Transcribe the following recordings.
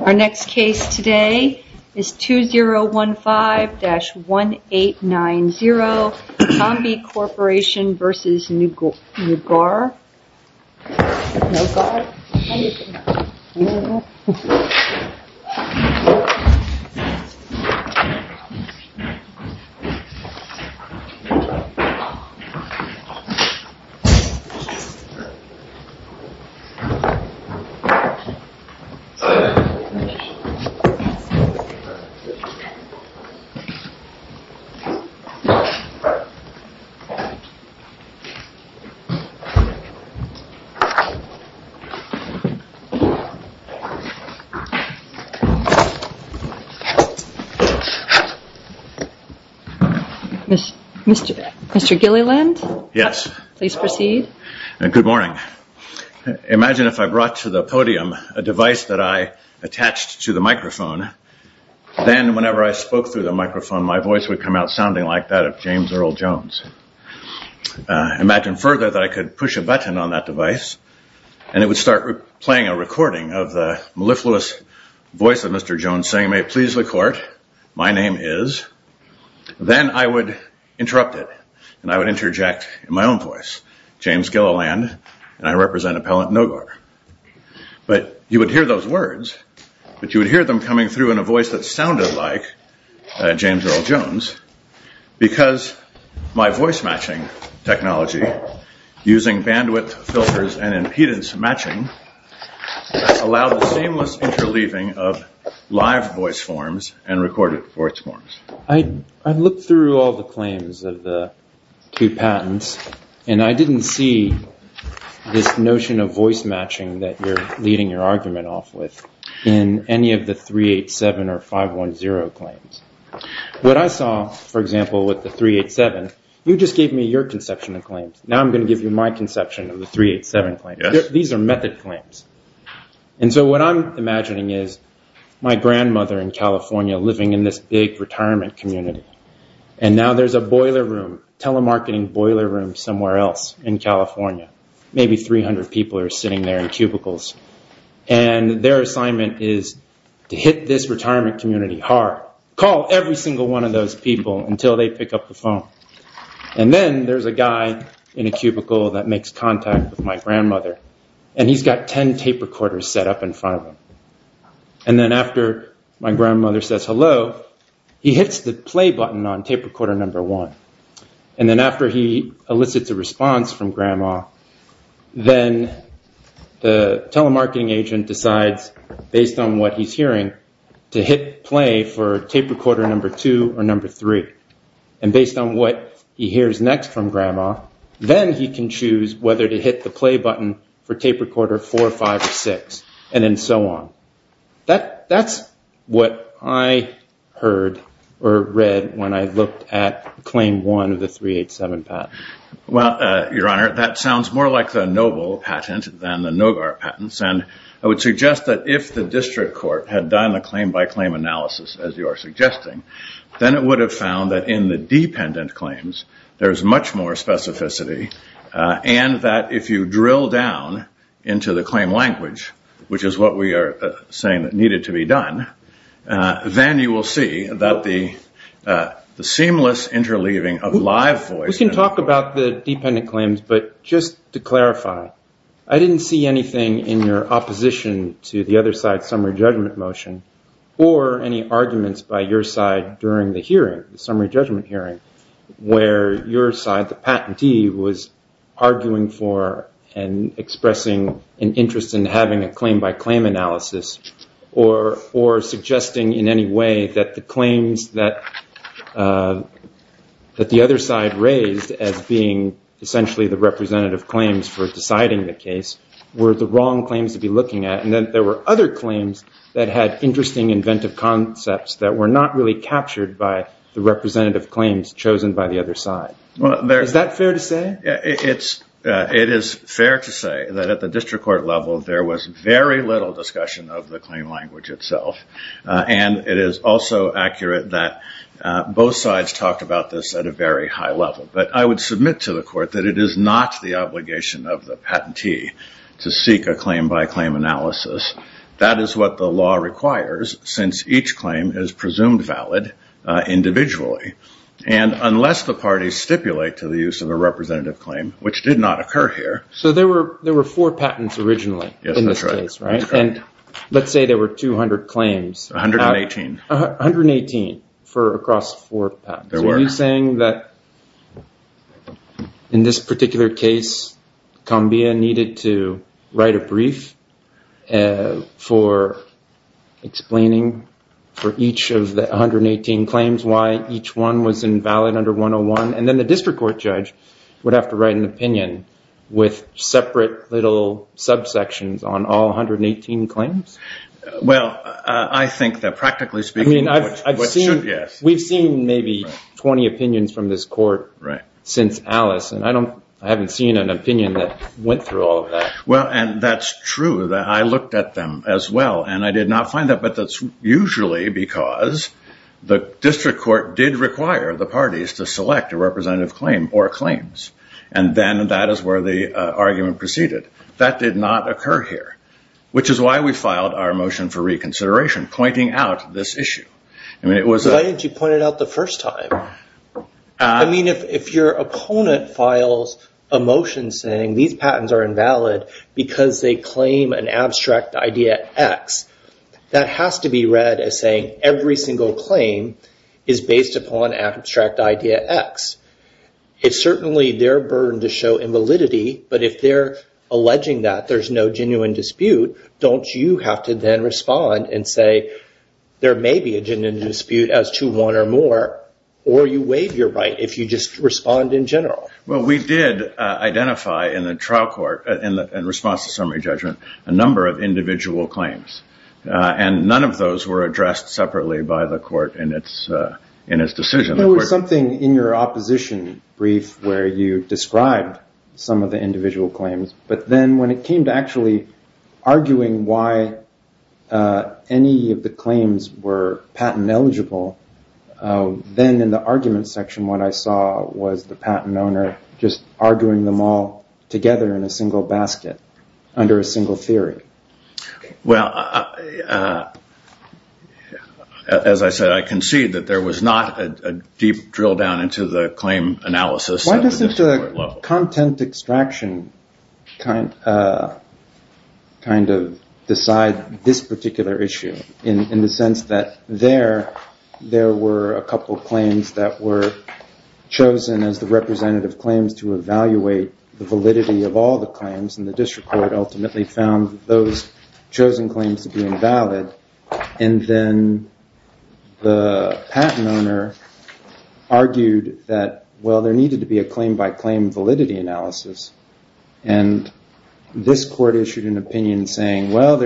Our next case today is 2015-1890 ComBea Corporation v. Noguar L.C. Our next case today is 2015-1890 ComBea Corporation v. Noguar L.C. Mr. Gilliland? Yes. Please proceed. Good morning. Imagine if I brought to the podium a device that I attached to the microphone. Then whenever I spoke through the microphone, my voice would come out sounding like that of James Earl Jones. Imagine further that I could push a button on that device and it would start playing a recording of the mellifluous voice of Mr. Jones saying, may it please the court, my name is. Then I would interrupt it and I would interject in my own voice, James Gilliland, and I represent Appellant Noguar. But you would hear those words, but you would hear them coming through in a voice that sounded like James Earl Jones because my voice matching technology, using bandwidth filters and impedance matching, allowed a seamless interleaving of live voice forms and recorded voice forms. I looked through all the claims of the two patents and I didn't see this notion of voice matching that you're leading your argument off with in any of the 387 or 510 claims. What I saw, for example, with the 387, you just gave me your conception of claims. Now I'm going to give you my conception of the 387 claims. These are method claims. What I'm imagining is my grandmother in California living in this big retirement community. Now there's a boiler room, telemarketing boiler room somewhere else in California. Maybe 300 people are sitting there in cubicles. Their assignment is to hit this retirement community hard. Call every single one of those people until they pick up the phone. Then there's a guy in a cubicle that makes contact with my grandmother. He's got 10 tape recorders set up in front of him. Then after my grandmother says hello, he hits the play button on tape recorder number one. Then after he elicits a response from grandma, then the telemarketing agent decides, based on what he's hearing, to hit play for tape recorder number two or number three. And based on what he hears next from grandma, then he can choose whether to hit the play button for tape recorder four, five, or six, and then so on. That's what I heard or read when I looked at claim one of the 387 patent. Well, Your Honor, that sounds more like the Noble patent than the Nogar patents. And I would suggest that if the district court had done a claim-by-claim analysis, as you are suggesting, then it would have found that in the dependent claims there is much more specificity and that if you drill down into the claim language, which is what we are saying that needed to be done, then you will see that the seamless interleaving of live voice. We can talk about the dependent claims, but just to clarify, I didn't see anything in your opposition to the other side's summary judgment motion or any arguments by your side during the hearing, the summary judgment hearing, where your side, the patentee, was arguing for and expressing an interest in having a claim-by-claim analysis or suggesting in any way that the claims that the other side raised as being essentially the representative claims for deciding the case were the wrong claims to be looking at. And then there were other claims that had interesting inventive concepts that were not really captured by the representative claims chosen by the other side. Is that fair to say? It is fair to say that at the district court level there was very little discussion of the claim language itself. And it is also accurate that both sides talked about this at a very high level. But I would submit to the court that it is not the obligation of the patentee to seek a claim-by-claim analysis. That is what the law requires since each claim is presumed valid individually. And unless the parties stipulate to the use of a representative claim, which did not occur here. So there were four patents originally in this case, right? Yes, that's right. And let's say there were 200 claims. 118. 118 for across four patents. So are you saying that in this particular case, Combia needed to write a brief for explaining for each of the 118 claims why each one was invalid under 101, and then the district court judge would have to write an opinion with separate little subsections on all 118 claims? Well, I think that practically speaking, yes. We've seen maybe 20 opinions from this court since Alice, and I haven't seen an opinion that went through all of that. Well, and that's true. I looked at them as well, and I did not find that. But that's usually because the district court did require the parties to select a representative claim or claims. And then that is where the argument proceeded. That did not occur here, which is why we filed our motion for reconsideration, pointing out this issue. Why didn't you point it out the first time? I mean, if your opponent files a motion saying these patents are invalid because they claim an abstract idea X, that has to be read as saying every single claim is based upon abstract idea X. It's certainly their burden to show invalidity, but if they're alleging that there's no genuine dispute, don't you have to then respond and say there may be a genuine dispute as to one or more, or you waive your right if you just respond in general? Well, we did identify in the trial court in response to summary judgment a number of individual claims, and none of those were addressed separately by the court in its decision. There was something in your opposition brief where you described some of the individual claims, but then when it came to actually arguing why any of the claims were patent eligible, then in the argument section what I saw was the patent owner just arguing them all together in a single basket under a single theory. Well, as I said, I concede that there was not a deep drill down into the claim analysis. Why does the content extraction kind of decide this particular issue in the sense that there were a couple of claims that were chosen as the representative claims to evaluate the validity of all the claims, and the district court ultimately found those chosen claims to be invalid, and then the patent owner argued that, well, there needed to be a claim-by-claim validity analysis, and this court issued an opinion saying, well,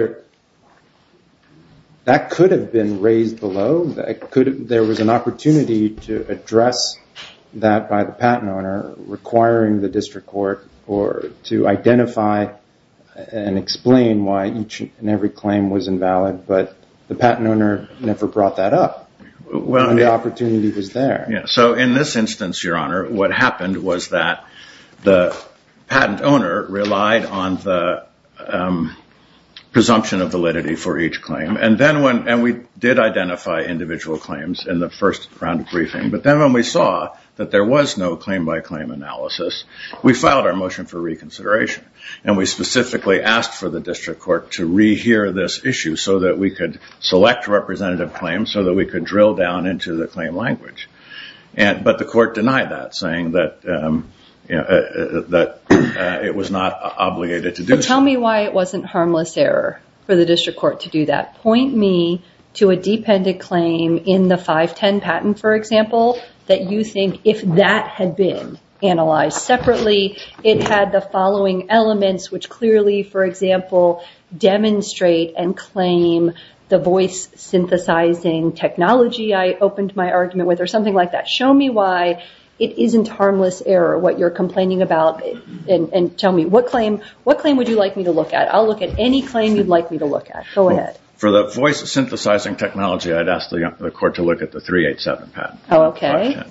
that could have been raised below. There was an opportunity to address that by the patent owner requiring the district court to identify and explain why each and every claim was invalid, but the patent owner never brought that up. The opportunity was there. So in this instance, Your Honor, what happened was that the patent owner relied on the presumption of validity for each claim, and we did identify individual claims in the first round of briefing, but then when we saw that there was no claim-by-claim analysis, we filed our motion for reconsideration, and we specifically asked for the district court to rehear this issue so that we could select representative claims so that we could drill down into the claim language, but the court denied that, saying that it was not obligated to do that. Tell me why it wasn't harmless error for the district court to do that. Point me to a dependent claim in the 510 patent, for example, that you think if that had been analyzed separately, it had the following elements, which clearly, for example, demonstrate and claim the voice-synthesizing technology I opened my argument with, or something like that. Show me why it isn't harmless error, what you're complaining about, and tell me, what claim would you like me to look at? I'll look at any claim you'd like me to look at. Go ahead. For the voice-synthesizing technology, I'd ask the court to look at the 387 patent. Okay.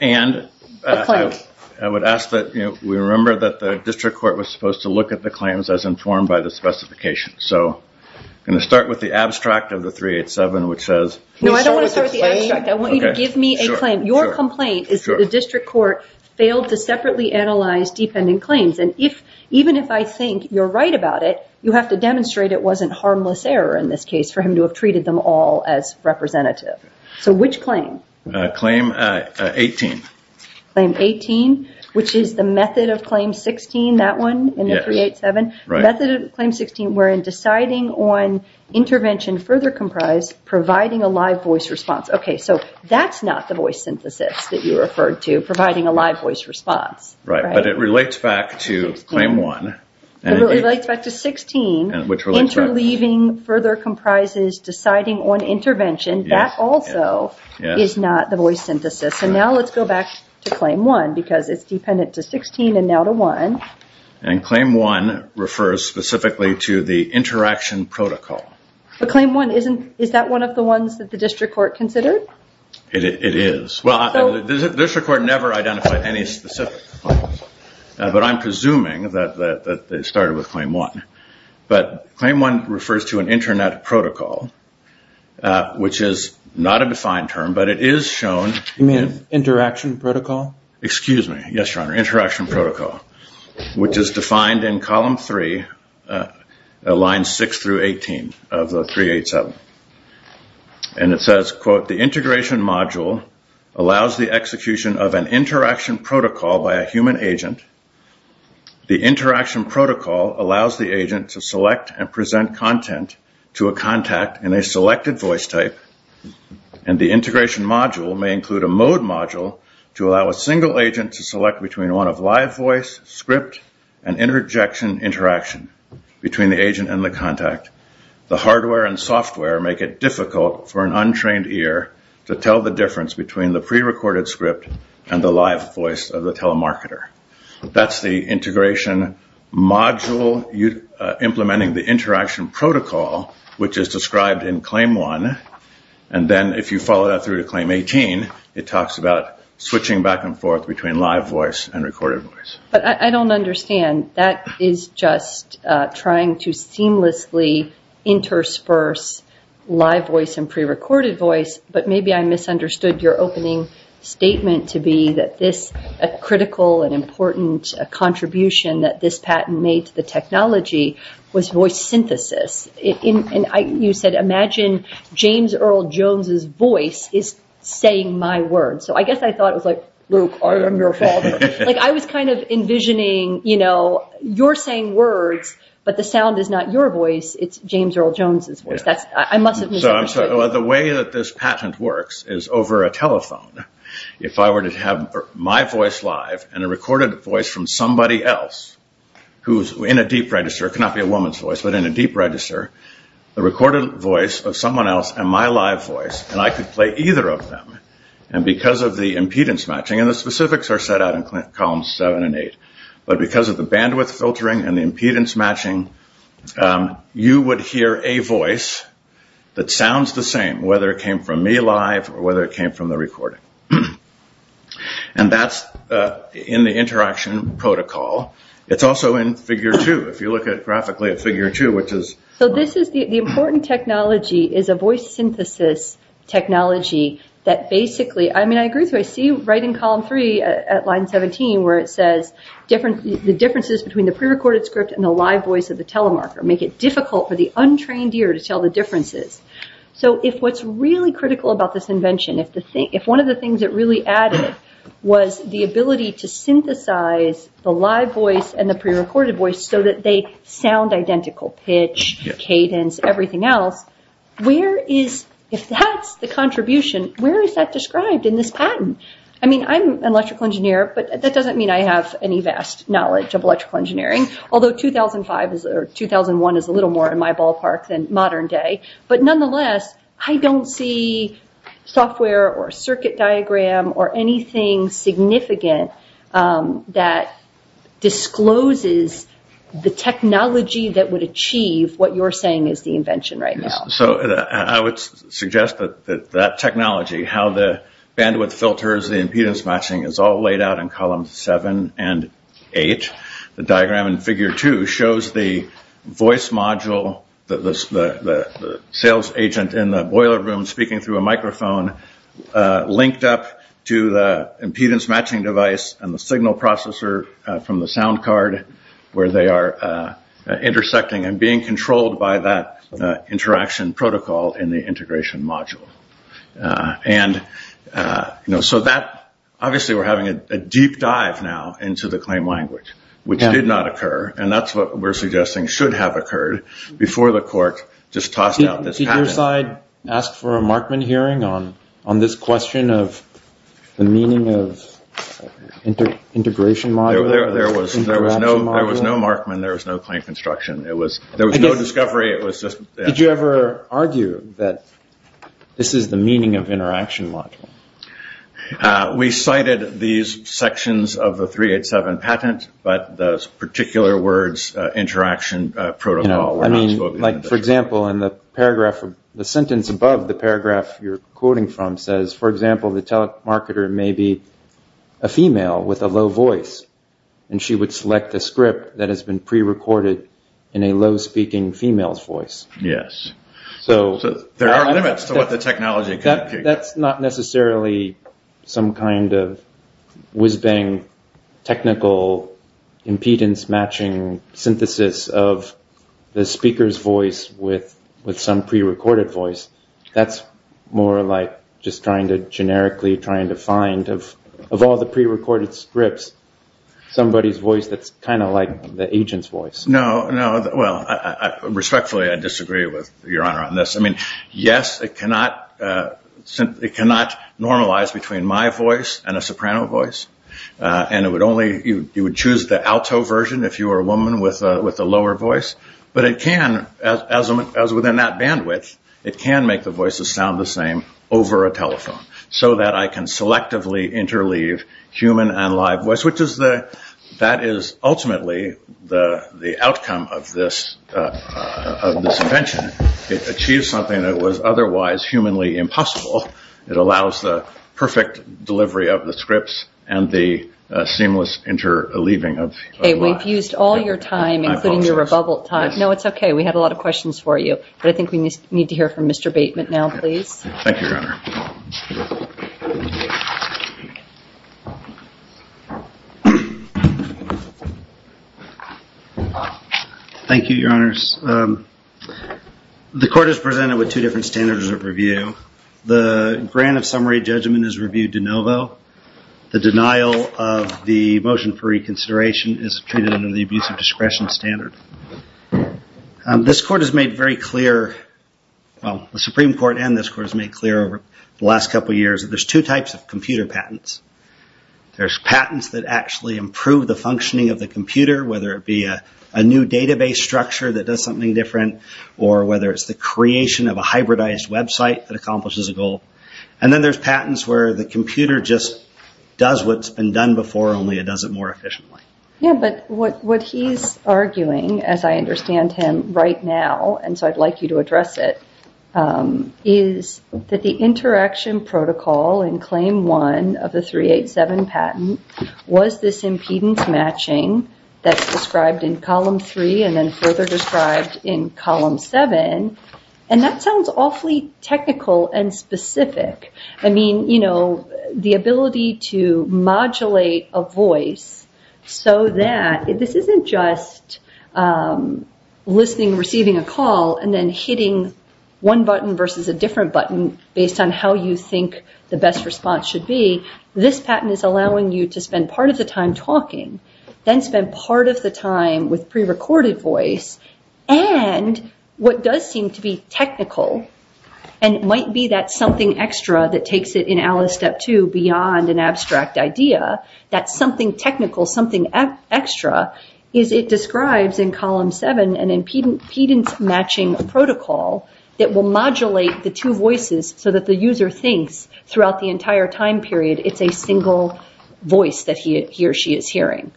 And I would ask that we remember that the district court was supposed to look at the claims as informed by the specification. So I'm going to start with the abstract of the 387, which says... No, I don't want to start with the abstract. I want you to give me a claim. Your complaint is that the district court failed to separately analyze dependent claims, and even if I think you're right about it, you have to demonstrate it wasn't harmless error in this case for him to have treated them all as representative. So which claim? Claim 18. Claim 18, which is the method of claim 16, that one in the 387? Yes. The method of claim 16 wherein deciding on intervention further comprised providing a live voice response. Okay, so that's not the voice synthesis that you referred to, providing a live voice response. Right, but it relates back to claim 1. It relates back to 16. Which relates back to... Further leaving, further comprises deciding on intervention, that also is not the voice synthesis. And now let's go back to claim 1 because it's dependent to 16 and now to 1. And claim 1 refers specifically to the interaction protocol. But claim 1, is that one of the ones that the district court considered? It is. Well, the district court never identified any specific claims, but I'm presuming that they started with claim 1. But claim 1 refers to an internet protocol, which is not a defined term, but it is shown... You mean interaction protocol? Excuse me. Yes, Your Honor. Interaction protocol, which is defined in column 3, line 6 through 18 of the 387. And it says, quote, The integration module allows the execution of an interaction protocol by a human agent. The interaction protocol allows the agent to select and present content to a contact in a selected voice type. And the integration module may include a mode module to allow a single agent to select between one of live voice, script, and interjection interaction between the agent and the contact. The hardware and software make it difficult for an untrained ear to tell the difference between the prerecorded script and the live voice of the telemarketer. That's the integration module implementing the interaction protocol, which is described in claim 1. And then if you follow that through to claim 18, it talks about switching back and forth between live voice and recorded voice. But I don't understand. That is just trying to seamlessly intersperse live voice and prerecorded voice. But maybe I misunderstood your opening statement to be that this critical and important contribution that this patent made to the technology was voice synthesis. And you said, imagine James Earl Jones's voice is saying my words. So I guess I thought it was like, Luke, I am your father. I was kind of envisioning, you know, you're saying words, but the sound is not your voice. It's James Earl Jones's voice. I must have misunderstood. The way that this patent works is over a telephone. If I were to have my voice live and a recorded voice from somebody else who is in a deep register, it cannot be a woman's voice, but in a deep register, the recorded voice of someone else and my live voice, and I could play either of them. And because of the impedance matching, and the specifics are set out in columns 7 and 8, but because of the bandwidth filtering and the impedance matching, you would hear a voice that sounds the same, whether it came from me live or whether it came from the recording. And that's in the interaction protocol. It's also in figure 2. If you look at it graphically at figure 2, which is... So this is the important technology is a voice synthesis technology that basically... I mean, I agree with you. I see right in column 3 at line 17 where it says the differences between the prerecorded script and the live voice of the telemarker make it difficult for the untrained ear to tell the differences. So if what's really critical about this invention, if one of the things it really added was the ability to synthesize the live voice and the prerecorded voice so that they sound identical, pitch, cadence, everything else, if that's the contribution, where is that described in this patent? I mean, I'm an electrical engineer, but that doesn't mean I have any vast knowledge of electrical engineering, although 2005 or 2001 is a little more in my ballpark than modern day. But nonetheless, I don't see software or circuit diagram or anything significant that discloses the technology that would achieve what you're saying is the invention right now. So I would suggest that that technology, how the bandwidth filters, the impedance matching is all laid out in column 7 and 8. The diagram in figure 2 shows the voice module, the sales agent in the boiler room speaking through a microphone, linked up to the impedance matching device and the signal processor from the sound card where they are intersecting and being controlled by that interaction protocol in the integration module. So obviously we're having a deep dive now into the claim language, which did not occur, and that's what we're suggesting should have occurred before the court just tossed out this patent. Did your side ask for a Markman hearing on this question of the meaning of integration module? There was no Markman, there was no claim construction, there was no discovery. Did you ever argue that this is the meaning of interaction module? We cited these sections of the 387 patent, but those particular words, interaction protocol, were not spoken. For example, in the paragraph, the sentence above the paragraph you're quoting from says, for example, the telemarketer may be a female with a low voice, and she would select a script that has been pre-recorded in a low-speaking female's voice. Yes. So there are limits to what the technology can do. That's not necessarily some kind of whiz-bang technical impedance matching synthesis of the speaker's voice with some pre-recorded voice. That's more like just generically trying to find, of all the pre-recorded scripts, somebody's voice that's kind of like the agent's voice. No, no. Well, respectfully, I disagree with Your Honor on this. I mean, yes, it cannot normalize between my voice and a soprano voice, and you would choose the alto version if you were a woman with a lower voice, but it can, as within that bandwidth, it can make the voices sound the same over a telephone so that I can selectively interleave human and live voice, which is ultimately the outcome of this invention. It achieves something that was otherwise humanly impossible. It allows the perfect delivery of the scripts and the seamless interleaving of live. We've used all your time, including your rebuttal time. No, it's okay. We had a lot of questions for you, but I think we need to hear from Mr. Bateman now, please. Thank you, Your Honor. Thank you, Your Honors. The court is presented with two different standards of review. The grant of summary judgment is reviewed de novo. The denial of the motion for reconsideration is treated under the abuse of discretion standard. This court has made very clear, well, the Supreme Court and this court has made clear over the last couple of years that there's two types of computer patents. There's patents that actually improve the functioning of the computer, whether it be a new database structure that does something different or whether it's the creation of a hybridized website that accomplishes a goal. And then there's patents where the computer just does what's been done before, only it does it more efficiently. Yeah, but what he's arguing, as I understand him right now, and so I'd like you to address it, is that the interaction protocol in Claim 1 of the 387 patent was this impedance matching that's described in Column 3 and then further described in Column 7. And that sounds awfully technical and specific. I mean, you know, the ability to modulate a voice so that this isn't just listening, receiving a call and then hitting one button versus a different button based on how you think the best response should be. This patent is allowing you to spend part of the time talking, then spend part of the time with prerecorded voice. And what does seem to be technical and might be that something extra that takes it in Alice Step 2 beyond an abstract idea, that something technical, something extra, is it describes in Column 7 an impedance matching protocol that will modulate the two voices so that the user thinks throughout the entire time period it's a single voice that he or she is hearing.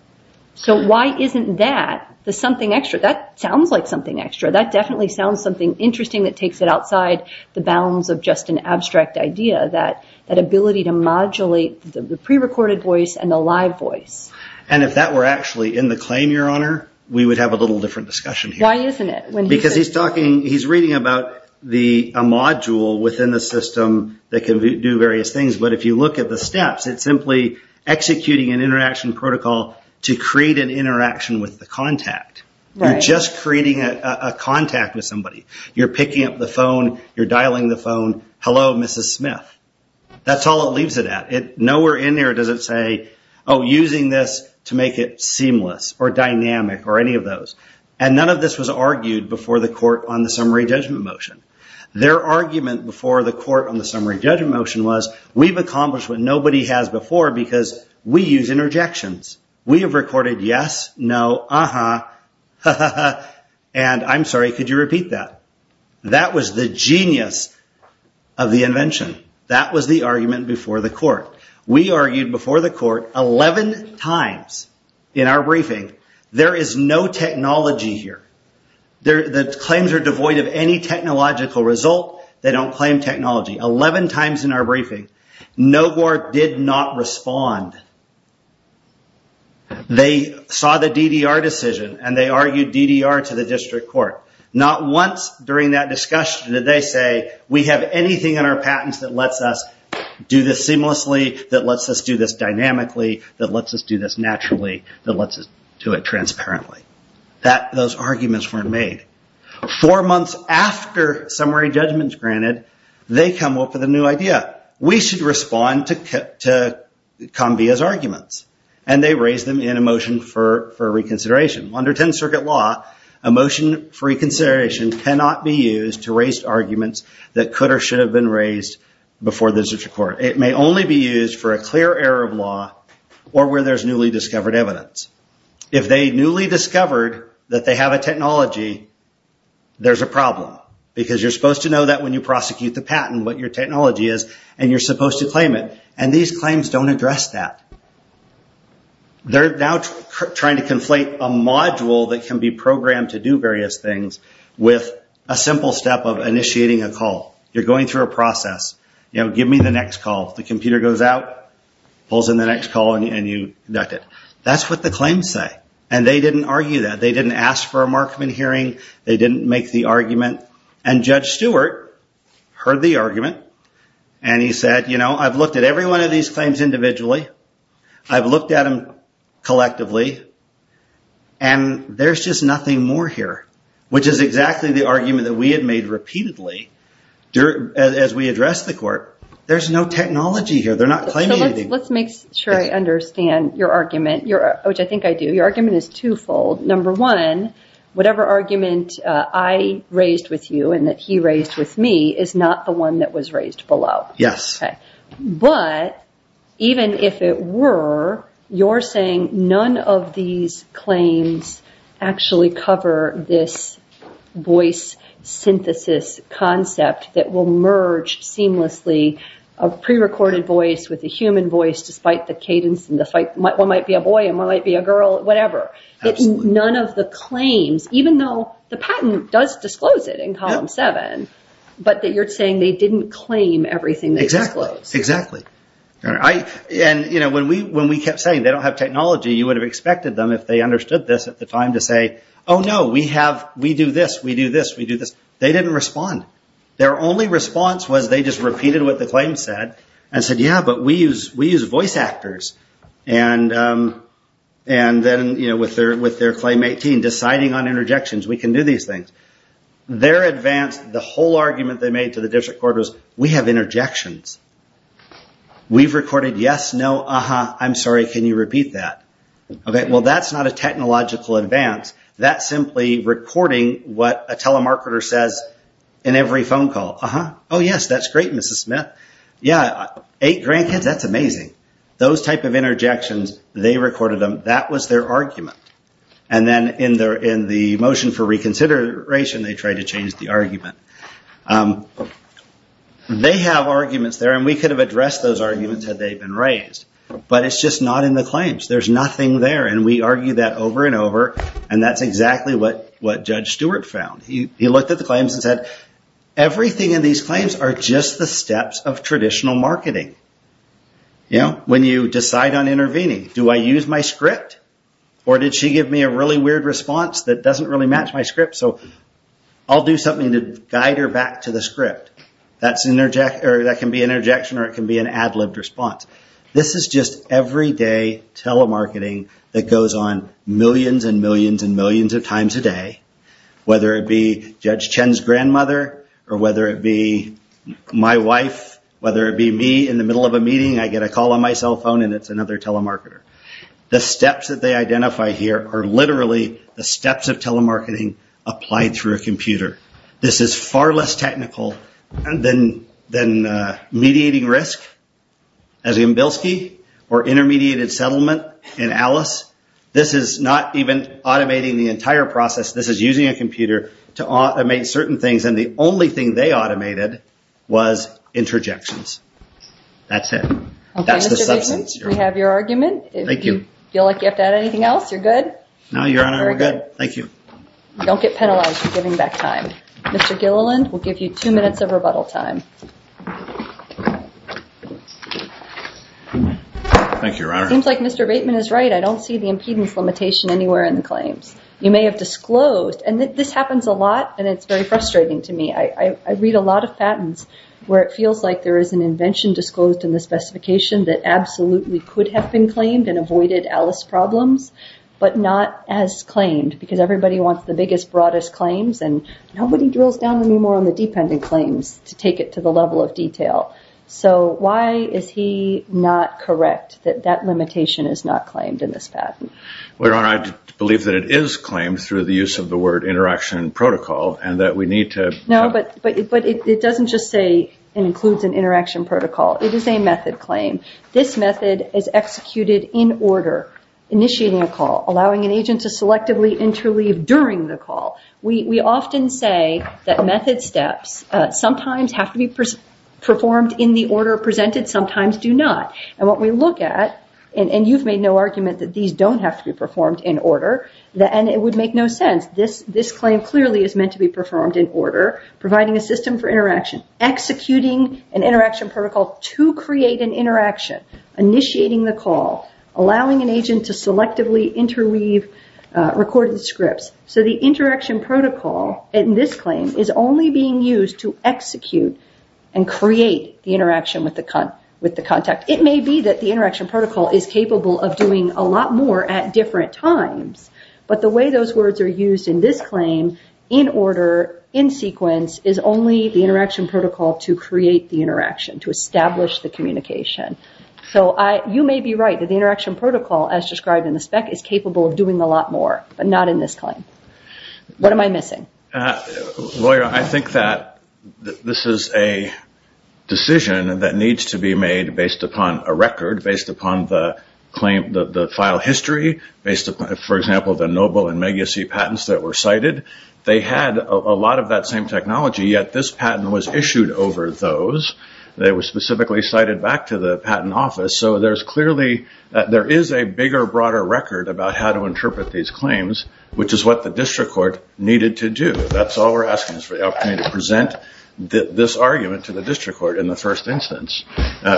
So why isn't that the something extra? That sounds like something extra. That definitely sounds something interesting that takes it outside the bounds of just an abstract idea, that ability to modulate the prerecorded voice and the live voice. And if that were actually in the claim, Your Honor, we would have a little different discussion here. Why isn't it? Because he's talking, he's reading about a module within the system that can do various things, but if you look at the steps, it's simply executing an interaction protocol to create an interaction with the contact. You're just creating a contact with somebody. You're picking up the phone, you're dialing the phone, hello, Mrs. Smith. That's all it leaves it at. Nowhere in there does it say, oh, using this to make it seamless or dynamic or any of those. And none of this was argued before the court on the summary judgment motion. Their argument before the court on the summary judgment motion was, we've accomplished what nobody has before because we use interjections. We have recorded yes, no, uh-huh, ha-ha-ha, and I'm sorry, could you repeat that? That was the genius of the invention. That was the argument before the court. We argued before the court 11 times in our briefing. There is no technology here. The claims are devoid of any technological result. They don't claim technology. 11 times in our briefing, NOGOR did not respond. They saw the DDR decision and they argued DDR to the district court. Not once during that discussion did they say, we have anything in our patents that lets us do this seamlessly, that lets us do this dynamically, that lets us do this naturally, that lets us do it transparently. Those arguments weren't made. Four months after summary judgment is granted, they come up with a new idea. We should respond to Kambia's arguments. And they raise them in a motion for reconsideration. Under 10th Circuit law, a motion for reconsideration cannot be used to raise arguments that could or should have been raised before the district court. It may only be used for a clear error of law or where there is newly discovered evidence. If they newly discovered that they have a technology, there's a problem. Because you're supposed to know that when you prosecute the patent, what your technology is, and you're supposed to claim it. And these claims don't address that. They're now trying to conflate a module that can be programmed to do various things with a simple step of initiating a call. You're going through a process. Give me the next call. The computer goes out, pulls in the next call, and you conduct it. That's what the claims say. And they didn't argue that. They didn't ask for a Markman hearing. They didn't make the argument. And Judge Stewart heard the argument. And he said, you know, I've looked at every one of these claims individually. I've looked at them collectively. And there's just nothing more here. Which is exactly the argument that we had made repeatedly as we addressed the court. There's no technology here. They're not claiming anything. Let's make sure I understand your argument, which I think I do. Your argument is twofold. Number one, whatever argument I raised with you and that he raised with me is not the one that was raised below. Yes. But even if it were, you're saying none of these claims actually cover this voice synthesis concept that will merge seamlessly a pre-recorded voice with a human voice despite the cadence and despite one might be a boy and one might be a girl, whatever. None of the claims, even though the patent does disclose it in column seven, but you're saying they didn't claim everything they disclosed. Exactly. And when we kept saying they don't have technology, you would have expected them, if they understood this at the time, to say, oh, no, we do this, we do this, we do this. They didn't respond. Their only response was they just repeated what the claim said and said, yeah, but we use voice actors. And then with their claim 18, deciding on interjections, we can do these things. Their advance, the whole argument they made to the district court was, we have interjections. We've recorded yes, no, uh-huh, I'm sorry, can you repeat that? Well, that's not a technological advance. That's simply recording what a telemarketer says in every phone call. Uh-huh, oh, yes, that's great, Mrs. Smith. Yeah, eight grandkids, that's amazing. Those type of interjections, they recorded them. That was their argument. And then in the motion for reconsideration, they tried to change the argument. They have arguments there, and we could have addressed those arguments had they been raised, but it's just not in the claims. There's nothing there, and we argued that over and over, and that's exactly what Judge Stewart found. He looked at the claims and said, everything in these claims are just the steps of traditional marketing. When you decide on intervening, do I use my script, or did she give me a really weird response that doesn't really match my script, so I'll do something to guide her back to the script. That can be an interjection or it can be an ad-libbed response. This is just everyday telemarketing that goes on millions and millions and millions of times a day, whether it be Judge Chen's grandmother or whether it be my wife, whether it be me in the middle of a meeting, I get a call on my cell phone and it's another telemarketer. The steps that they identify here are literally the steps of telemarketing applied through a computer. This is far less technical than mediating risk, as in Bilski, or intermediated settlement in Alice. This is not even automating the entire process. This is using a computer to automate certain things, and the only thing they automated was interjections. That's it. That's the substance. Okay, Mr. Bickman, we have your argument. Thank you. If you feel like you have to add anything else, you're good. No, Your Honor, we're good. Thank you. Don't get penalized for giving back time. Mr. Gilliland, we'll give you two minutes of rebuttal time. Thank you, Your Honor. It seems like Mr. Bateman is right. I don't see the impedance limitation anywhere in the claims. You may have disclosed, and this happens a lot, and it's very frustrating to me. I read a lot of patents where it feels like there is an invention disclosed in the specification that absolutely could have been claimed and avoided Alice problems, but not as claimed because everybody wants the biggest, broadest claims, and nobody drills down any more on the dependent claims to take it to the level of detail. So why is he not correct that that limitation is not claimed in this patent? Well, Your Honor, I believe that it is claimed through the use of the word interaction protocol and that we need to No, but it doesn't just say it includes an interaction protocol. It is a method claim. This method is executed in order, initiating a call, allowing an agent to selectively interleave during the call. We often say that method steps sometimes have to be performed in the order presented, sometimes do not. And what we look at, and you've made no argument that these don't have to be performed in order, and it would make no sense. This claim clearly is meant to be performed in order, providing a system for interaction, executing an interaction protocol to create an interaction, initiating the call, allowing an agent to selectively interweave recorded scripts. So the interaction protocol in this claim is only being used to execute and create the interaction with the contact. It may be that the interaction protocol is capable of doing a lot more at different times, but the way those words are used in this claim, in order, in sequence, is only the interaction protocol to create the interaction, to establish the communication. So you may be right that the interaction protocol, as described in the spec, is capable of doing a lot more, but not in this claim. What am I missing? Lawyer, I think that this is a decision that needs to be made based upon a record, based upon the file history, based upon, for example, the Noble and Megasi patents that were cited. They had a lot of that same technology, yet this patent was issued over those. They were specifically cited back to the patent office. So there is a bigger, broader record about how to interpret these claims, which is what the district court needed to do. That's all we're asking is for the opportunity to present this argument to the district court in the first instance,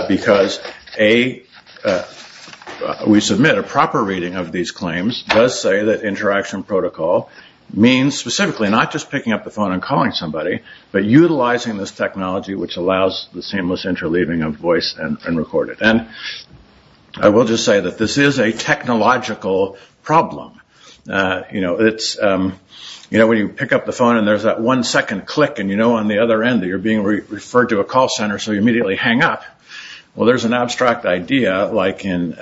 because we submit a proper reading of these claims, does say that interaction protocol means specifically not just picking up the phone and calling somebody, but utilizing this technology, which allows the seamless interleaving of voice and recorded. And I will just say that this is a technological problem. You know, when you pick up the phone and there's that one second click, and you know on the other end that you're being referred to a call center, so you immediately hang up. Well, there's an abstract idea, like in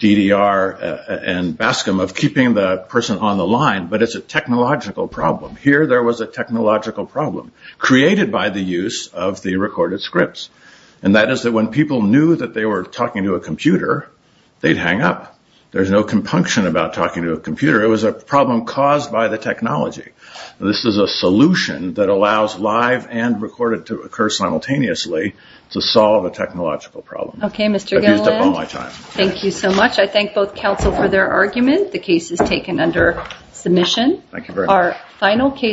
DDR and Bascom, of keeping the person on the line, but it's a technological problem. Here there was a technological problem created by the use of the recorded scripts, and that is that when people knew that they were talking to a computer, they'd hang up. There's no compunction about talking to a computer. It was a problem caused by the technology. This is a solution that allows live and recorded to occur simultaneously to solve a technological problem. Okay, Mr. Galland. I've used up all my time. Thank you so much. I thank both counsel for their argument. Thank you very much.